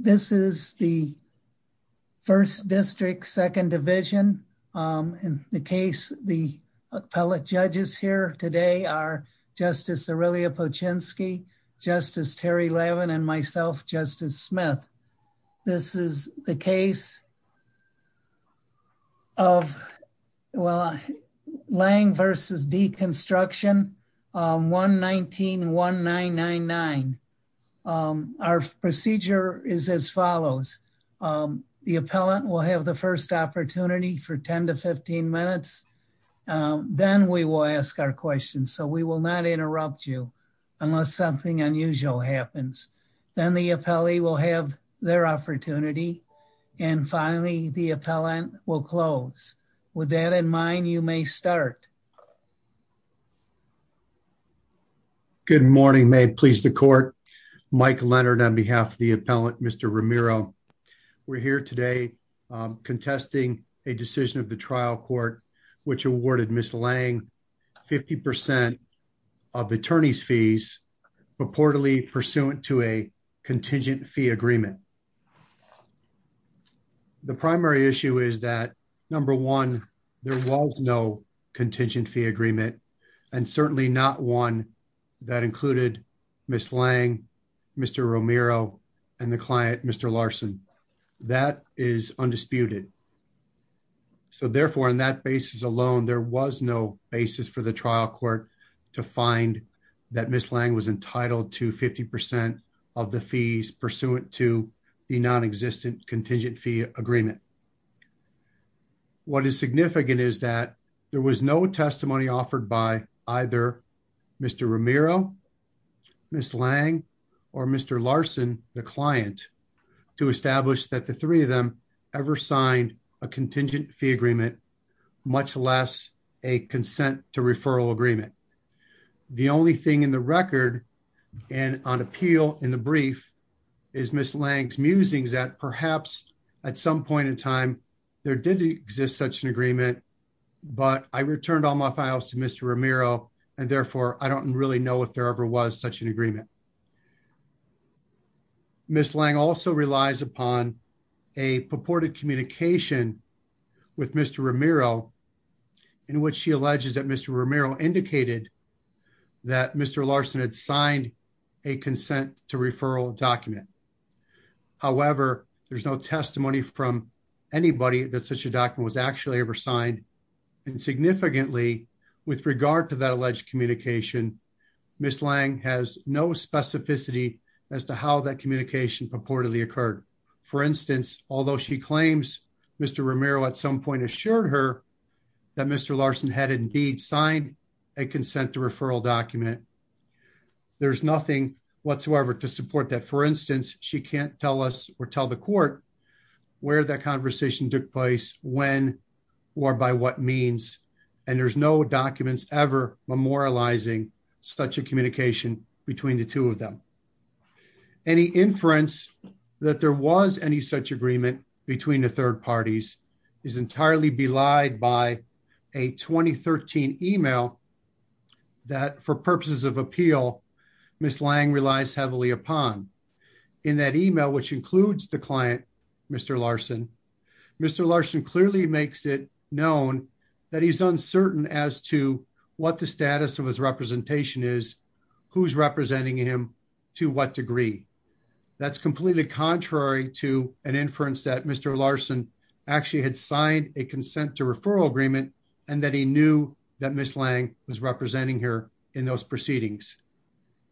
This is the 1st District, 2nd Division. In the case, the appellate judges here today are Justice Aurelia Poczynski, Justice Terry Levin, and myself, Justice Smith. This is the case of Lange v. Deconstruction, 1-19-1999. Our procedure is as follows. The appellate will have the 1st opportunity for 10-15 minutes. Then we will ask our questions, so we will not interrupt you unless something unusual happens. Then the appellee will have their opportunity, and finally the appellant will close. With that in mind, you may start. Good morning, may it please the Court. Mike Leonard on behalf of the appellant, Mr. Romero. We're here today contesting a decision of the trial court which awarded Ms. Lange 50% of attorney's fees purportedly pursuant to a contingent fee agreement. The primary issue is that, number one, there was no contingent fee agreement, and certainly not one that included Ms. Lange, Mr. Romero, and the client, Mr. Larson. That is undisputed. Therefore, on that basis alone, there was no basis for the trial court to find that Ms. Lange was entitled to 50% of the fees pursuant to the non-existent contingent fee agreement. What is significant is that there was no testimony offered by either Mr. Romero, Ms. Lange, or Mr. Larson, the client, to establish that the three of them ever signed a contingent fee agreement, much less a consent to referral agreement. The only thing in the record and on appeal in the brief is Ms. Lange's musings that perhaps at some point in time, there did exist such an agreement, but I returned all my files to Mr. Romero, and therefore, I don't really know if there ever was such an agreement. Ms. Lange also relies upon a purported communication with Mr. Romero in which she alleges that Mr. Romero indicated that Mr. Larson had signed a consent to referral document. However, there's no testimony from anybody that such a document was actually ever signed, and significantly, with regard to that alleged communication, Ms. Lange has no specificity as to how that communication purportedly occurred. For instance, although she claims Mr. Romero at some point assured her that Mr. Larson had indeed signed a consent to referral document, there's nothing whatsoever to support that. For instance, she can't tell us or tell the court where that conversation took place, when, or by what means, and there's no documents ever memorializing such a communication between the two of them. Any inference that there was any such agreement between the third parties is entirely belied by a 2013 email that for purposes of appeal, Ms. Lange relies heavily upon. In that email, which includes the client, Mr. Larson, Mr. Larson clearly makes it known that he's uncertain as to what the status of his representation is, who's representing him, to what degree. That's completely contrary to an inference that Mr. Larson actually had signed a consent to referral agreement, and that he knew that Ms. Lange was representing her in those proceedings.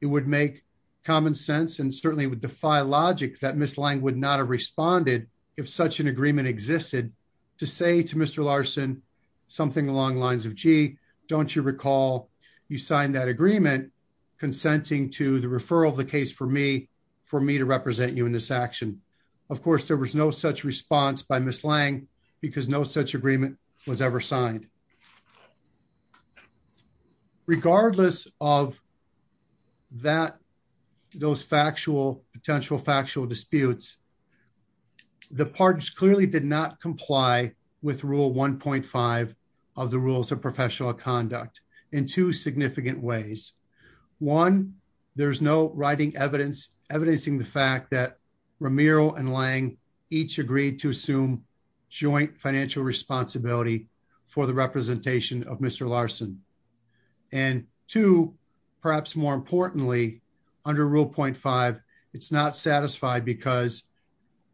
It would make common sense and certainly would defy logic that Ms. Lange would not have responded if such an agreement existed to say to Mr. Larson something along the lines of, gee, don't you recall you signed that agreement consenting to the referral of the case for me, for me to represent you in this action. Of course, there was no such response by Ms. Lange because no such agreement was ever signed. Regardless of that, those factual, potential factual disputes, the parties clearly did not comply with rule 1.5 of the rules of professional conduct in two each agreed to assume joint financial responsibility for the representation of Mr. Larson. And two, perhaps more importantly, under rule 0.5, it's not satisfied because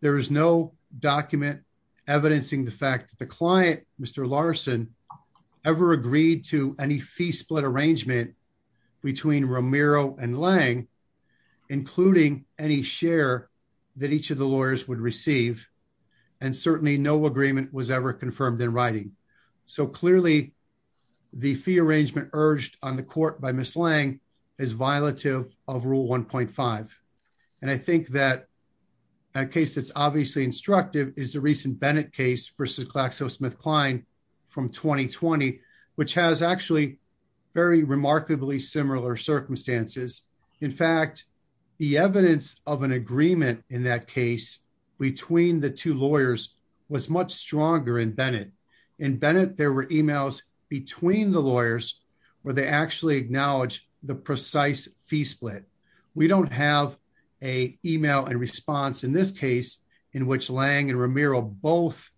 there is no document evidencing the fact that the client, Mr. Larson, ever agreed to any fee the lawyers would receive, and certainly no agreement was ever confirmed in writing. So clearly, the fee arrangement urged on the court by Ms. Lange is violative of rule 1.5. And I think that a case that's obviously instructive is the recent Bennett case versus KlaxoSmithKline from 2020, which has actually very remarkably similar circumstances. In fact, the evidence of an agreement in that case between the two lawyers was much stronger in Bennett. In Bennett, there were emails between the lawyers where they actually acknowledged the precise fee split. We don't have a email and response in this case in which Lange and Romero both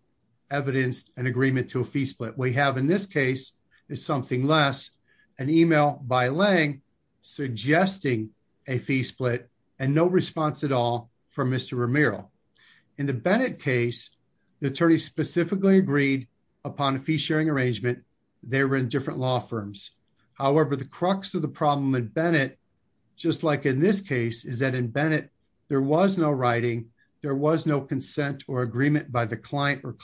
evidenced an agreement to a fee split. We have in this case is something less, an email by Lange suggesting a fee split and no response at all from Mr. Romero. In the Bennett case, the attorney specifically agreed upon a fee-sharing arrangement. They were in different law firms. However, the crux of the problem in Bennett, just like in this case, is that in Bennett, there was no writing, there was no consent or agreement by the client or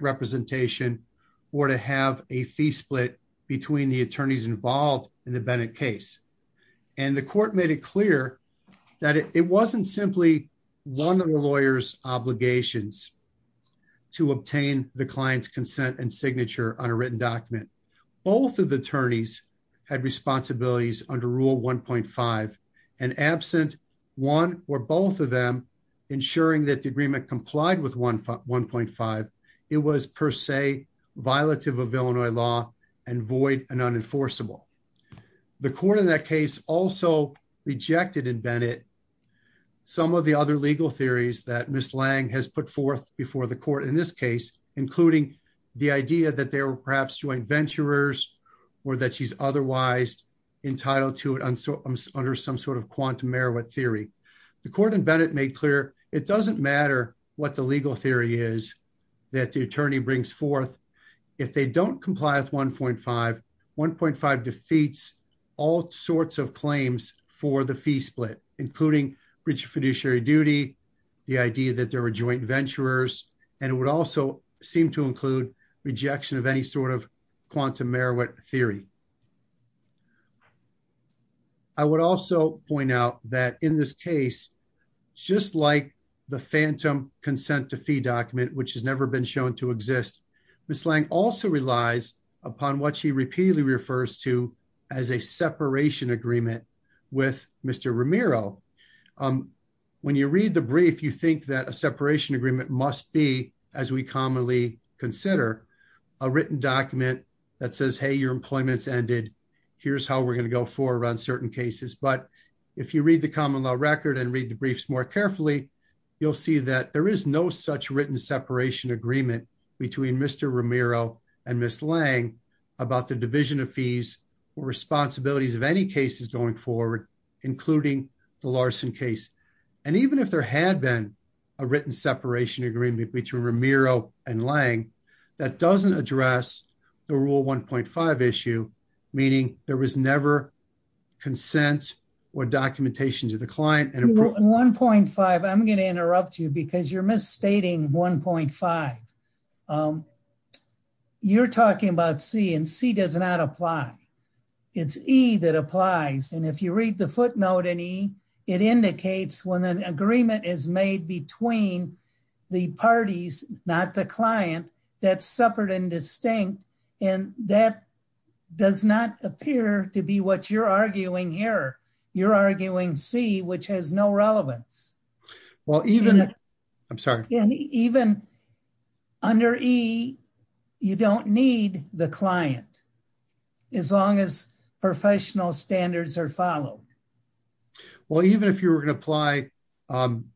representation or to have a fee split between the attorneys involved in the Bennett case. And the court made it clear that it wasn't simply one of the lawyer's obligations to obtain the client's consent and signature on a written document. Both of the attorneys had responsibilities under rule 1.5 and absent one or both of them ensuring that the agreement complied with 1.5, it was per se, violative of Illinois law and void and unenforceable. The court in that case also rejected in Bennett some of the other legal theories that Ms. Lange has put forth before the court in this case, including the idea that they were perhaps joint venturers or that she's otherwise entitled to it under some sort of quantum merit theory. The court in Bennett made clear, it doesn't matter what the legal theory is that the attorney brings forth. If they don't comply with 1.5, 1.5 defeats all sorts of claims for the fee split, including rich fiduciary duty, the idea that there were joint venturers, and it would also seem to include rejection of any sort of quantum merit theory. I would also point out that in this case, just like the phantom consent to fee document, which has never been shown to exist, Ms. Lange also relies upon what she repeatedly refers to as a separation agreement with Mr. Romero. When you read the brief, you think that a separation agreement must be, as we commonly consider, a written document that says, hey, your employment ended. Here's how we're going to go for around certain cases. But if you read the common law record and read the briefs more carefully, you'll see that there is no such written separation agreement between Mr. Romero and Ms. Lange about the division of fees or responsibilities of any cases going forward, including the Larson case. And even if there had been a written separation agreement between Romero and Lange, that doesn't address the Rule 1.5 issue, meaning there was never consent or documentation to the client. In Rule 1.5, I'm going to interrupt you because you're misstating 1.5. You're talking about C, and C does not apply. It's E that applies. And if read the footnote in E, it indicates when an agreement is made between the parties, not the client, that's separate and distinct. And that does not appear to be what you're arguing here. You're arguing C, which has no relevance. Even under E, you don't need the client as long as professional standards are followed. Well, even if you were going to apply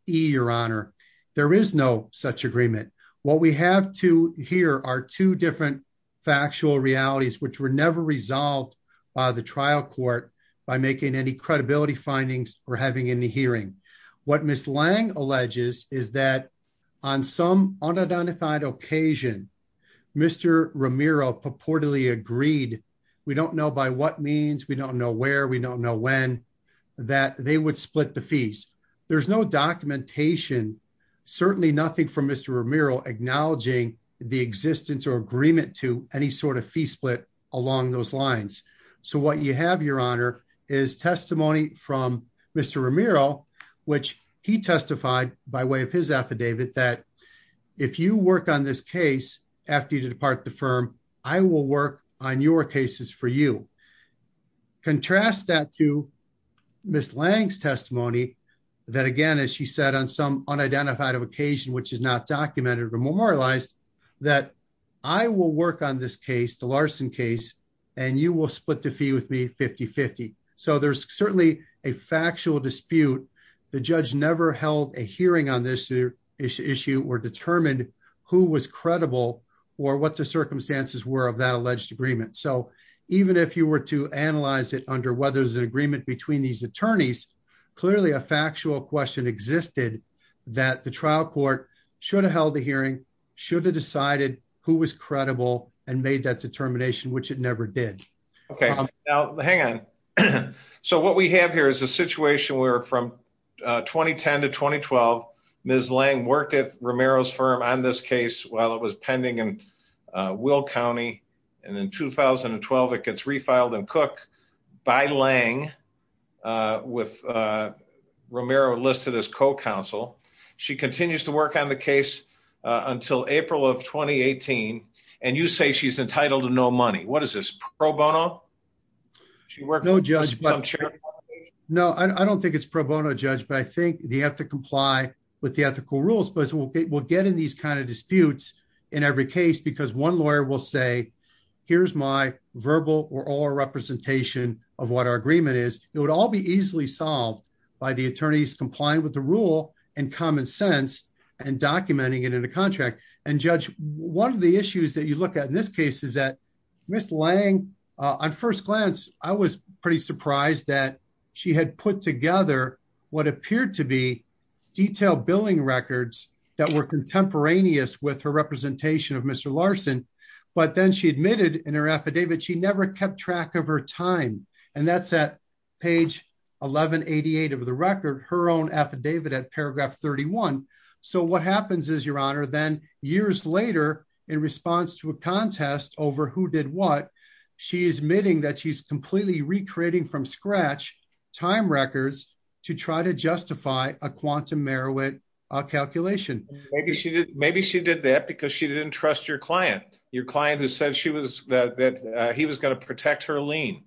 E, Your Honor, there is no such agreement. What we have to hear are two different factual realities which were never resolved by the trial court by making any credibility findings or having any hearing. What Ms. Lange alleges is that on some unidentified occasion, Mr. Romero purportedly agreed, we don't know by what means, we don't know where, we don't know when, that they would split the fees. There's no documentation, certainly nothing from Mr. Romero acknowledging the existence or agreement to any sort of fee split along those lines. So what you have, Your Honor, is testimony from Mr. Romero, which he testified by way of his affidavit that if you on your cases for you. Contrast that to Ms. Lange's testimony, that again, as she said, on some unidentified occasion, which is not documented or memorialized, that I will work on this case, the Larson case, and you will split the fee with me 50-50. So there's certainly a factual dispute. The judge never held a hearing on this issue or determined who was credible or the circumstances were of that alleged agreement. So even if you were to analyze it under whether there's an agreement between these attorneys, clearly a factual question existed that the trial court should have held a hearing, should have decided who was credible and made that determination, which it never did. Okay, now hang on. So what we have here is a situation where from 2010 to 2012, Ms. Lange worked at Romero's firm on this case while it was pending in Will County, and in 2012, it gets refiled in Cook by Lange, with Romero listed as co-counsel. She continues to work on the case until April of 2018, and you say she's entitled to no money. What is this, pro bono? No, Judge. No, I don't think it's pro bono, Judge, but I think they have to comply with the ethical rules, but we'll get in these kind of disputes in every case because one lawyer will say, here's my verbal or oral representation of what our agreement is. It would all be easily solved by the attorneys complying with the rule and common sense and documenting it in a contract. Judge, one of the issues that you look at in this case is that Ms. Lange, on first glance, I was pretty surprised that she had put together what appeared to be detailed billing records that were contemporaneous with her representation of Mr. Larson, but then she admitted in her affidavit she never kept track of her time, and that's at page 1188 of the record, her own affidavit at years later in response to a contest over who did what, she is admitting that she's completely recreating from scratch time records to try to justify a quantum Merowith calculation. Maybe she did that because she didn't trust your client, your client who said he was going to protect her lien.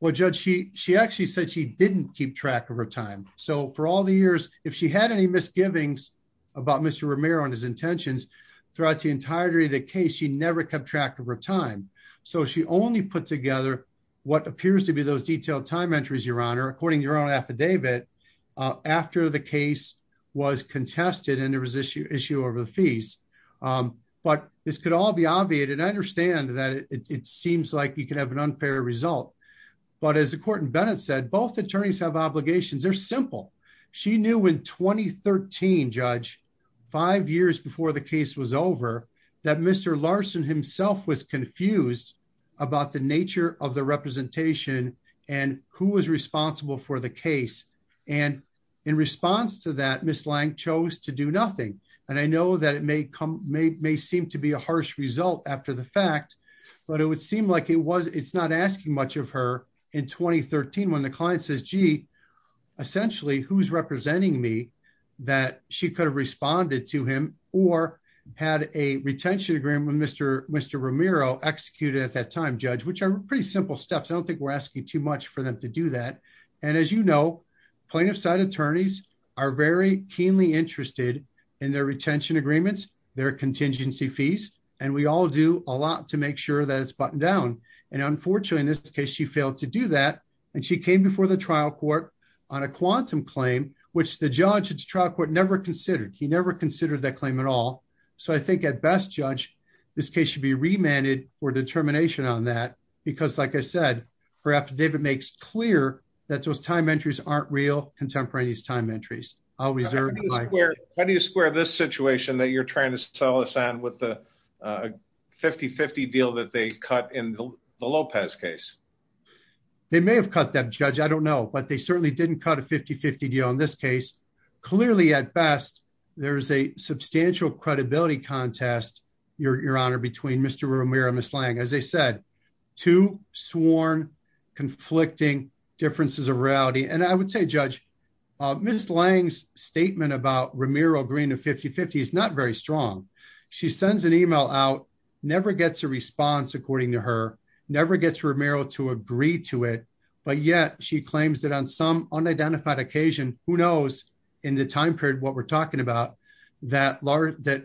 Well, Judge, she actually said she didn't keep track of her time, so for all the years, if she had any misgivings about Mr. Romero and his intentions throughout the entirety of the case, she never kept track of her time, so she only put together what appears to be those detailed time entries, Your Honor, according to her own affidavit after the case was contested and there was issue over the fees, but this could all be obviated. I understand that it seems like you could have an unfair result, but as the court in Bennett said, both attorneys have obligations. They're simple. She knew in 2013, Judge, five years before the case was over, that Mr. Larson himself was confused about the nature of the representation and who was responsible for the case, and in response to that, Ms. Lang chose to do nothing, and I know that it may seem to be a harsh result after the fact, but it would seem like it's not asking much of her in 2013 when the client says, gee, essentially, who's representing me, that she could have responded to him or had a retention agreement with Mr. Romero executed at that time, Judge, which are pretty simple steps. I don't think we're asking too much for them to do that, and as you know, plaintiff's side attorneys are very keenly interested in their retention agreements, their contingency fees, and we all do a lot to make sure that it's buttoned down, and unfortunately, in this case, she failed to do that, and she came before the trial court on a quantum claim, which the judge at the trial court never considered. He never considered that claim at all, so I think, at best, Judge, this case should be remanded for determination on that because, like I said, her affidavit makes clear that those time entries aren't real contemporaneous time entries. I'll reserve the mic. How do you square this situation that you're the Lopez case? They may have cut that, Judge. I don't know, but they certainly didn't cut a 50-50 deal in this case. Clearly, at best, there's a substantial credibility contest, Your Honor, between Mr. Romero and Ms. Lange. As I said, two sworn conflicting differences of reality, and I would say, Judge, Ms. Lange's statement about Romero agreeing to 50-50 is not very strong. She sends an email out, never gets a response, according to her, never gets Romero to agree to it, but yet she claims that on some unidentified occasion, who knows, in the time period what we're talking about, that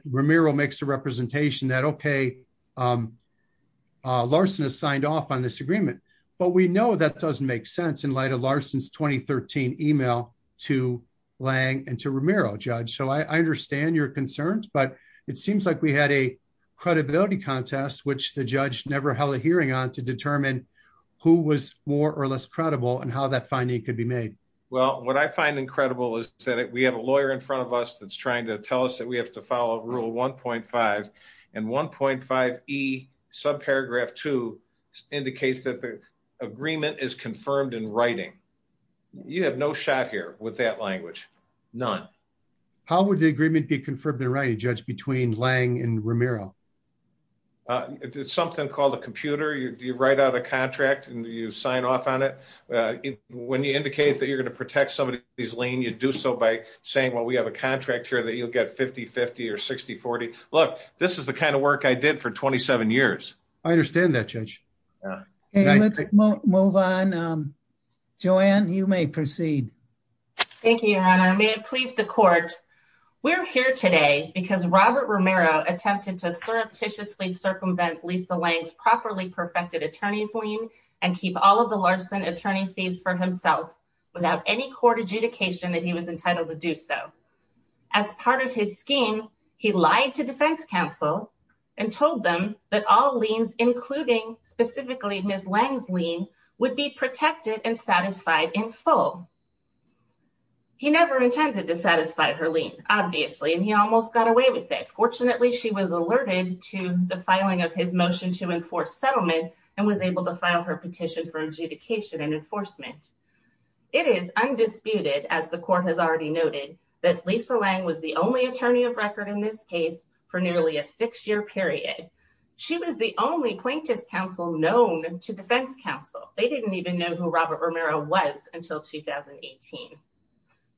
Romero makes a representation that, okay, Larson has signed off on this agreement, but we know that doesn't make sense in light of Larson's 2013 email to Lange and to Romero. It seems like we had a credibility contest, which the judge never held a hearing on, to determine who was more or less credible and how that finding could be made. Well, what I find incredible is that we have a lawyer in front of us that's trying to tell us that we have to follow Rule 1.5, and 1.5e, subparagraph 2, indicates that the agreement is confirmed in writing. You have no shot here with that language, none. How would the agreement be confirmed in writing, Judge, between Lange and Romero? It's something called a computer. You write out a contract and you sign off on it. When you indicate that you're going to protect somebody's lien, you do so by saying, well, we have a contract here that you'll get 50-50 or 60-40. Look, this is the kind of work I did for 27 years. I understand that, Judge. Let's move on. Joanne, you may proceed. Thank you, Your Honor. May it please the Court, we're here today because Robert Romero attempted to surreptitiously circumvent Lisa Lange's properly perfected attorney's lien and keep all of the Larson attorney fees for himself without any court adjudication that he was entitled to do so. As part of his scheme, he lied to defense counsel and told them that all liens, including specifically Ms. Lange's lien, would be protected and satisfied in full. He never intended to satisfy her lien, obviously, and he almost got away with it. Fortunately, she was alerted to the filing of his motion to enforce settlement and was able to file her petition for adjudication and enforcement. It is undisputed, as the Court has already noted, that Lisa Lange was the only attorney of record in this case for nearly a six-year period. She was the only plaintiff's counsel known to defense counsel. They didn't even know who Robert Romero was until 2018.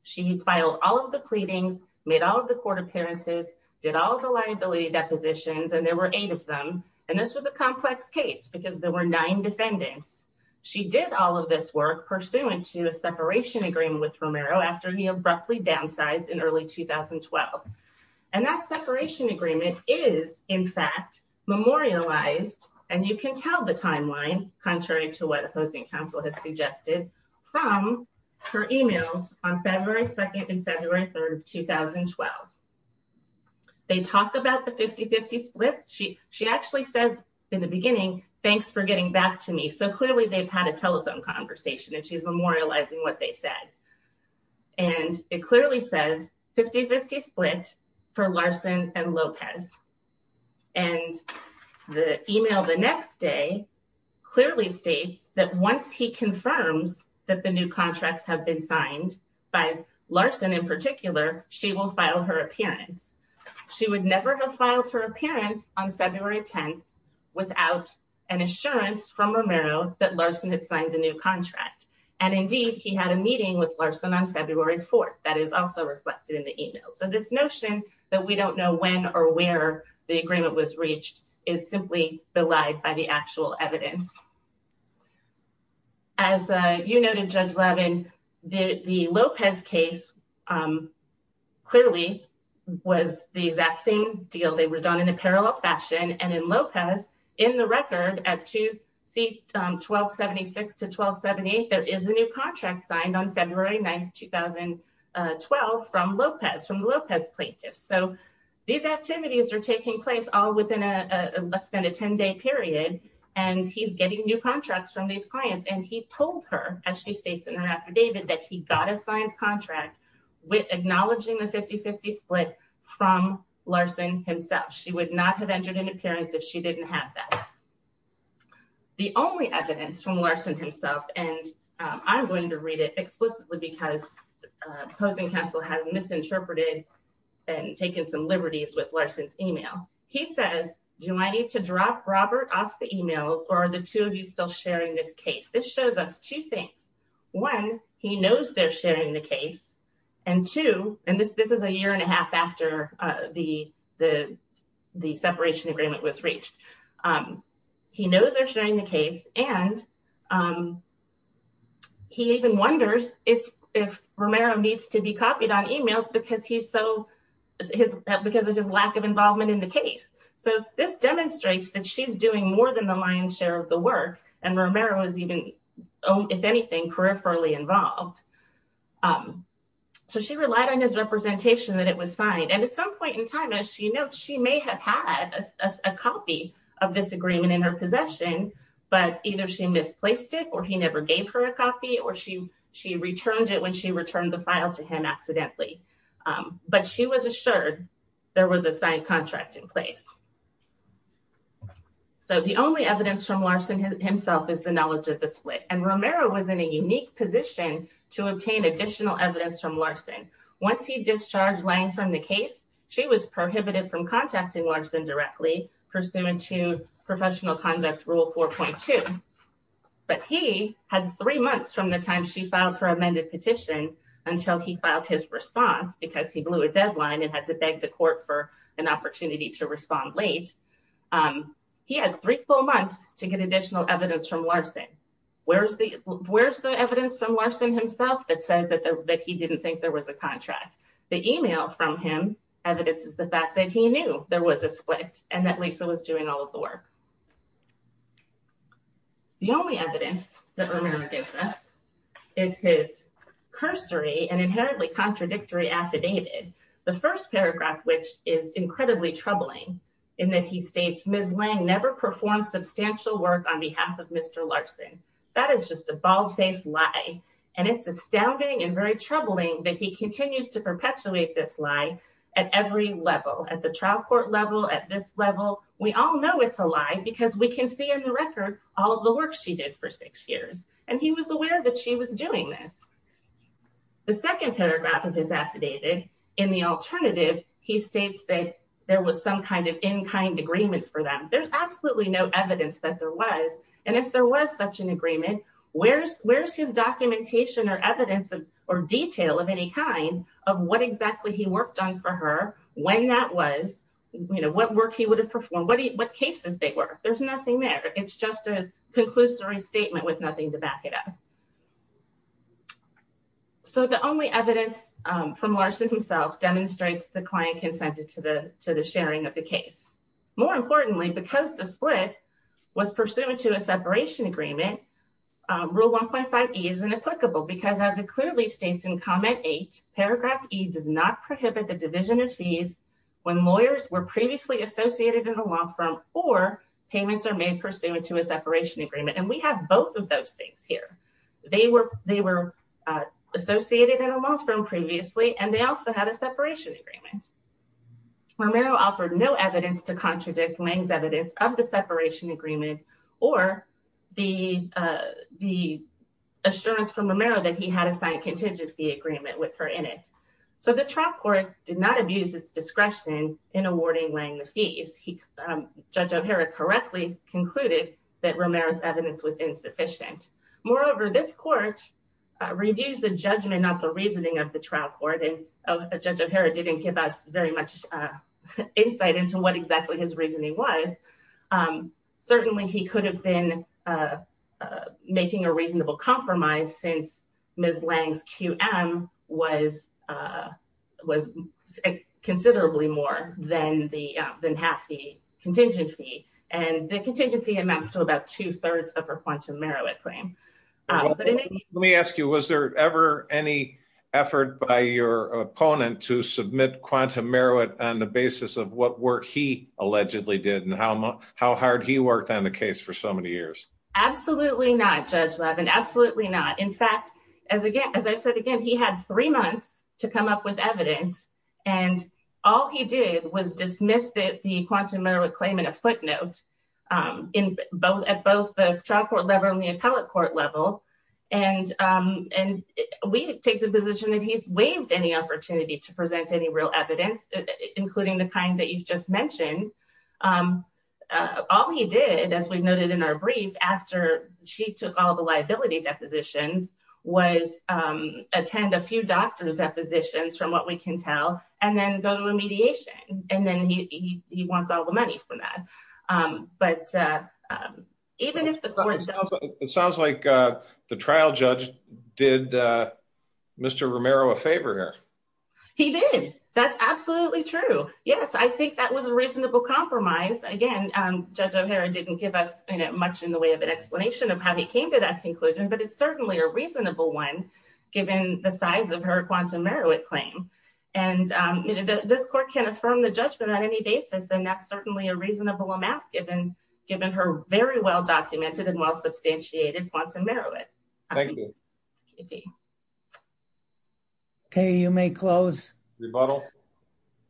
She filed all of the pleadings, made all of the court appearances, did all the liability depositions, and there were eight of them. And this was a complex case because there were nine defendants. She did all of this work pursuant to a separation agreement with Romero after he abruptly downsized in early 2012. And that separation agreement is, in fact, memorialized, and you can tell the timeline, contrary to what opposing counsel has suggested, from her emails on February 2nd and February 3rd of 2012. They talk about the 50-50 split. She actually says in the beginning, thanks for getting back to me. So clearly, they've had a telephone conversation, and she's memorializing what they said. And it clearly says 50-50 split for Larson and Lopez. And the email the next day clearly states that once he confirms that the new contracts have been signed by Larson in particular, she will file her appearance. She would never have filed her attempt without an assurance from Romero that Larson had signed the new contract. And indeed, he had a meeting with Larson on February 4th. That is also reflected in the email. So this notion that we don't know when or where the agreement was reached is simply belied by the actual evidence. As you noted, Judge Levin, the Lopez case clearly was the exact same deal. They were done in a Lopez. In the record, at 1276 to 1278, there is a new contract signed on February 9th, 2012, from Lopez, from the Lopez plaintiff. So these activities are taking place all within, let's spend a 10-day period, and he's getting new contracts from these clients. And he told her, as she states in her affidavit, that he got a signed contract acknowledging the 50-50 split from Larson himself. She would not have entered an appearance if she didn't have that. The only evidence from Larson himself, and I'm going to read it explicitly because opposing counsel has misinterpreted and taken some liberties with Larson's email. He says, do I need to drop Robert off the emails or are the two of you still sharing this case? This shows us two things. One, he knows they're sharing the case. And two, and this is a year and a half after the separation agreement was reached. He knows they're sharing the case, and he even wonders if Romero needs to be copied on emails because of his lack of involvement in the case. So this demonstrates that she's doing more than the lion's share of the work, and Romero is even, if anything, peripherally involved. So she relied on his representation that it was signed. And at some point in time, as she notes, she may have had a copy of this agreement in her possession, but either she misplaced it, or he never gave her a copy, or she returned it when she returned the file to him accidentally. But she was assured there was a signed contract in place. So the only evidence from Larson himself is the knowledge of the split. And Romero was in a unique position to obtain additional evidence from Larson. Once he discharged Lange from the case, she was prohibited from contacting Larson directly pursuant to professional conduct rule 4.2. But he had three months from the time she filed her amended petition until he filed his response because he blew a deadline and had to beg the court for an opportunity to respond late. He had three full months to get additional evidence from Larson. Where's the evidence from Larson himself that says that he didn't think there was a split? The email from him evidences the fact that he knew there was a split and that Lisa was doing all of the work. The only evidence that Romero gives us is his cursory and inherently contradictory affidavit. The first paragraph, which is incredibly troubling in that he states, Ms. Lange never performed substantial work on behalf of Mr. Larson. That is just a bald-faced lie. And it's astounding and very troubling that he continues to perpetuate this lie at every level, at the trial court level, at this level. We all know it's a lie because we can see in the record all of the work she did for six years. And he was aware that she was doing this. The second paragraph of his affidavit, in the alternative, he states that there was some kind of in-kind agreement for them. There's absolutely no evidence that there was. And if there was such agreement, where's his documentation or evidence or detail of any kind of what exactly he worked on for her, when that was, what work he would have performed, what cases they were? There's nothing there. It's just a conclusory statement with nothing to back it up. So the only evidence from Larson himself demonstrates the client consented to the sharing of the case. More importantly, because the split was pursuant to a separation agreement, Rule 1.5E is inapplicable because as it clearly states in Comment 8, Paragraph E does not prohibit the division of fees when lawyers were previously associated in a law firm or payments are made pursuant to a separation agreement. And we have both of those things here. They were associated in a law firm previously, and they also had a separation agreement. Romero offered no evidence to contradict Lange's evidence of the separation agreement or the assurance from Romero that he had a signed contingent fee agreement with her in it. So the trial court did not abuse its discretion in awarding Lange the fees. Judge O'Hara correctly concluded that Romero's evidence was insufficient. Moreover, this court reviews the judgment, not the reasoning of the trial court, and Judge O'Hara didn't give us very much insight into what exactly his reasoning was. Certainly, he could have been making a reasonable compromise since Ms. Lange's QM was considerably more than half the contingent fee. And the contingency amounts to about two-thirds of her QM claim. Let me ask you, was there ever any effort by your opponent to submit QM on the basis of what work he allegedly did and how hard he worked on the case for so many years? Absolutely not, Judge Levin. Absolutely not. In fact, as I said again, he had three months to come up with evidence, and all he did was dismiss the QM claim in a footnote at both the trial court level and the appellate court level. And we take the position that he's waived any opportunity to present any real evidence, including the kind that you've just mentioned. All he did, as we noted in our brief, after she took all the liability depositions, was attend a few doctor's depositions, from what we can tell, and then go to a mediation. And then he wants all the money for that. But even if the court... It sounds like the trial judge did Mr. Romero a favor here. He did. That's absolutely true. Yes, I think that was a reasonable compromise. Again, Judge O'Hara didn't give us much in the way of an explanation of how he came to that conclusion, but it's certainly a reasonable one, given the size of her QM claim. And this court can affirm the judgment on any basis, and that's certainly a reasonable amount, given her very well-documented and well-substantiated quantum merit. Thank you. Okay, you may close. Rebuttal.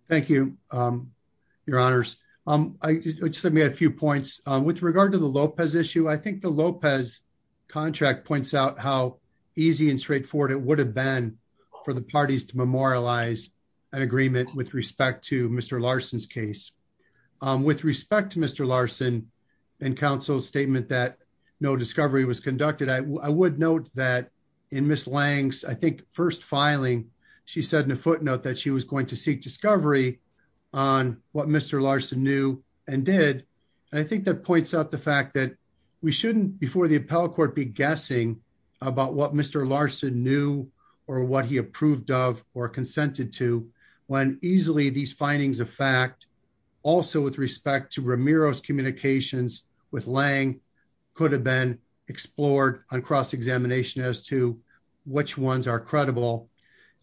Thank you, Your Honors. Let me add a few points. With regard to the Lopez issue, I think the Lopez contract points out how easy and straightforward it would have been for the parties to memorialize an agreement with respect to Mr. Larson's case. With respect to Mr. Larson and counsel's statement that no discovery was conducted, I would note that in Ms. Lange's, I think, first filing, she said in a footnote that she was going to seek discovery on what Mr. Larson knew and did. And I think that points out the fact that we shouldn't, before the appellate court, be guessing about what Mr. Larson knew or what he approved of or consented to, when easily these findings of fact, also with respect to Ramiro's communications with Lange, could have been explored on cross-examination as to which ones are credible.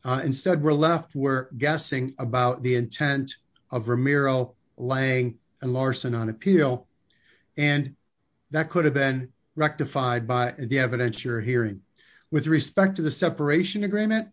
Instead, we're left guessing about the intent of Ramiro, Lange, and Larson on appeal. And that could have been rectified by the evidence you're hearing. With respect to the separation agreement,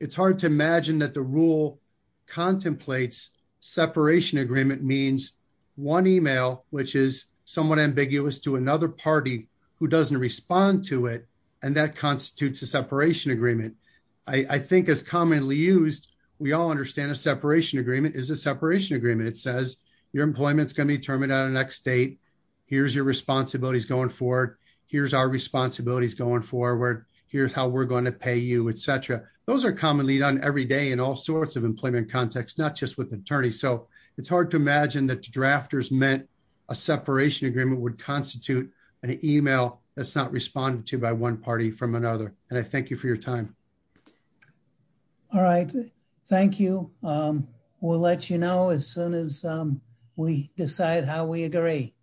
it's hard to imagine that the rule contemplates separation agreement means one email, which is somewhat ambiguous to another party who doesn't respond to it, and that constitutes a separation agreement. I think as commonly used, we all understand a separation agreement is a separation agreement. It says, your employment's going to be terminated on the next date. Here's your responsibilities going forward. Here's our responsibilities going forward. Here's how we're going to pay you, etc. Those are commonly done every day in all sorts of employment contexts, not just with attorneys. So it's hard to imagine that drafters meant a separation agreement would constitute an email that's not responded to by one party from another. And I thank you for your time. All right. Thank you. We'll let you know as soon as we decide how we agree.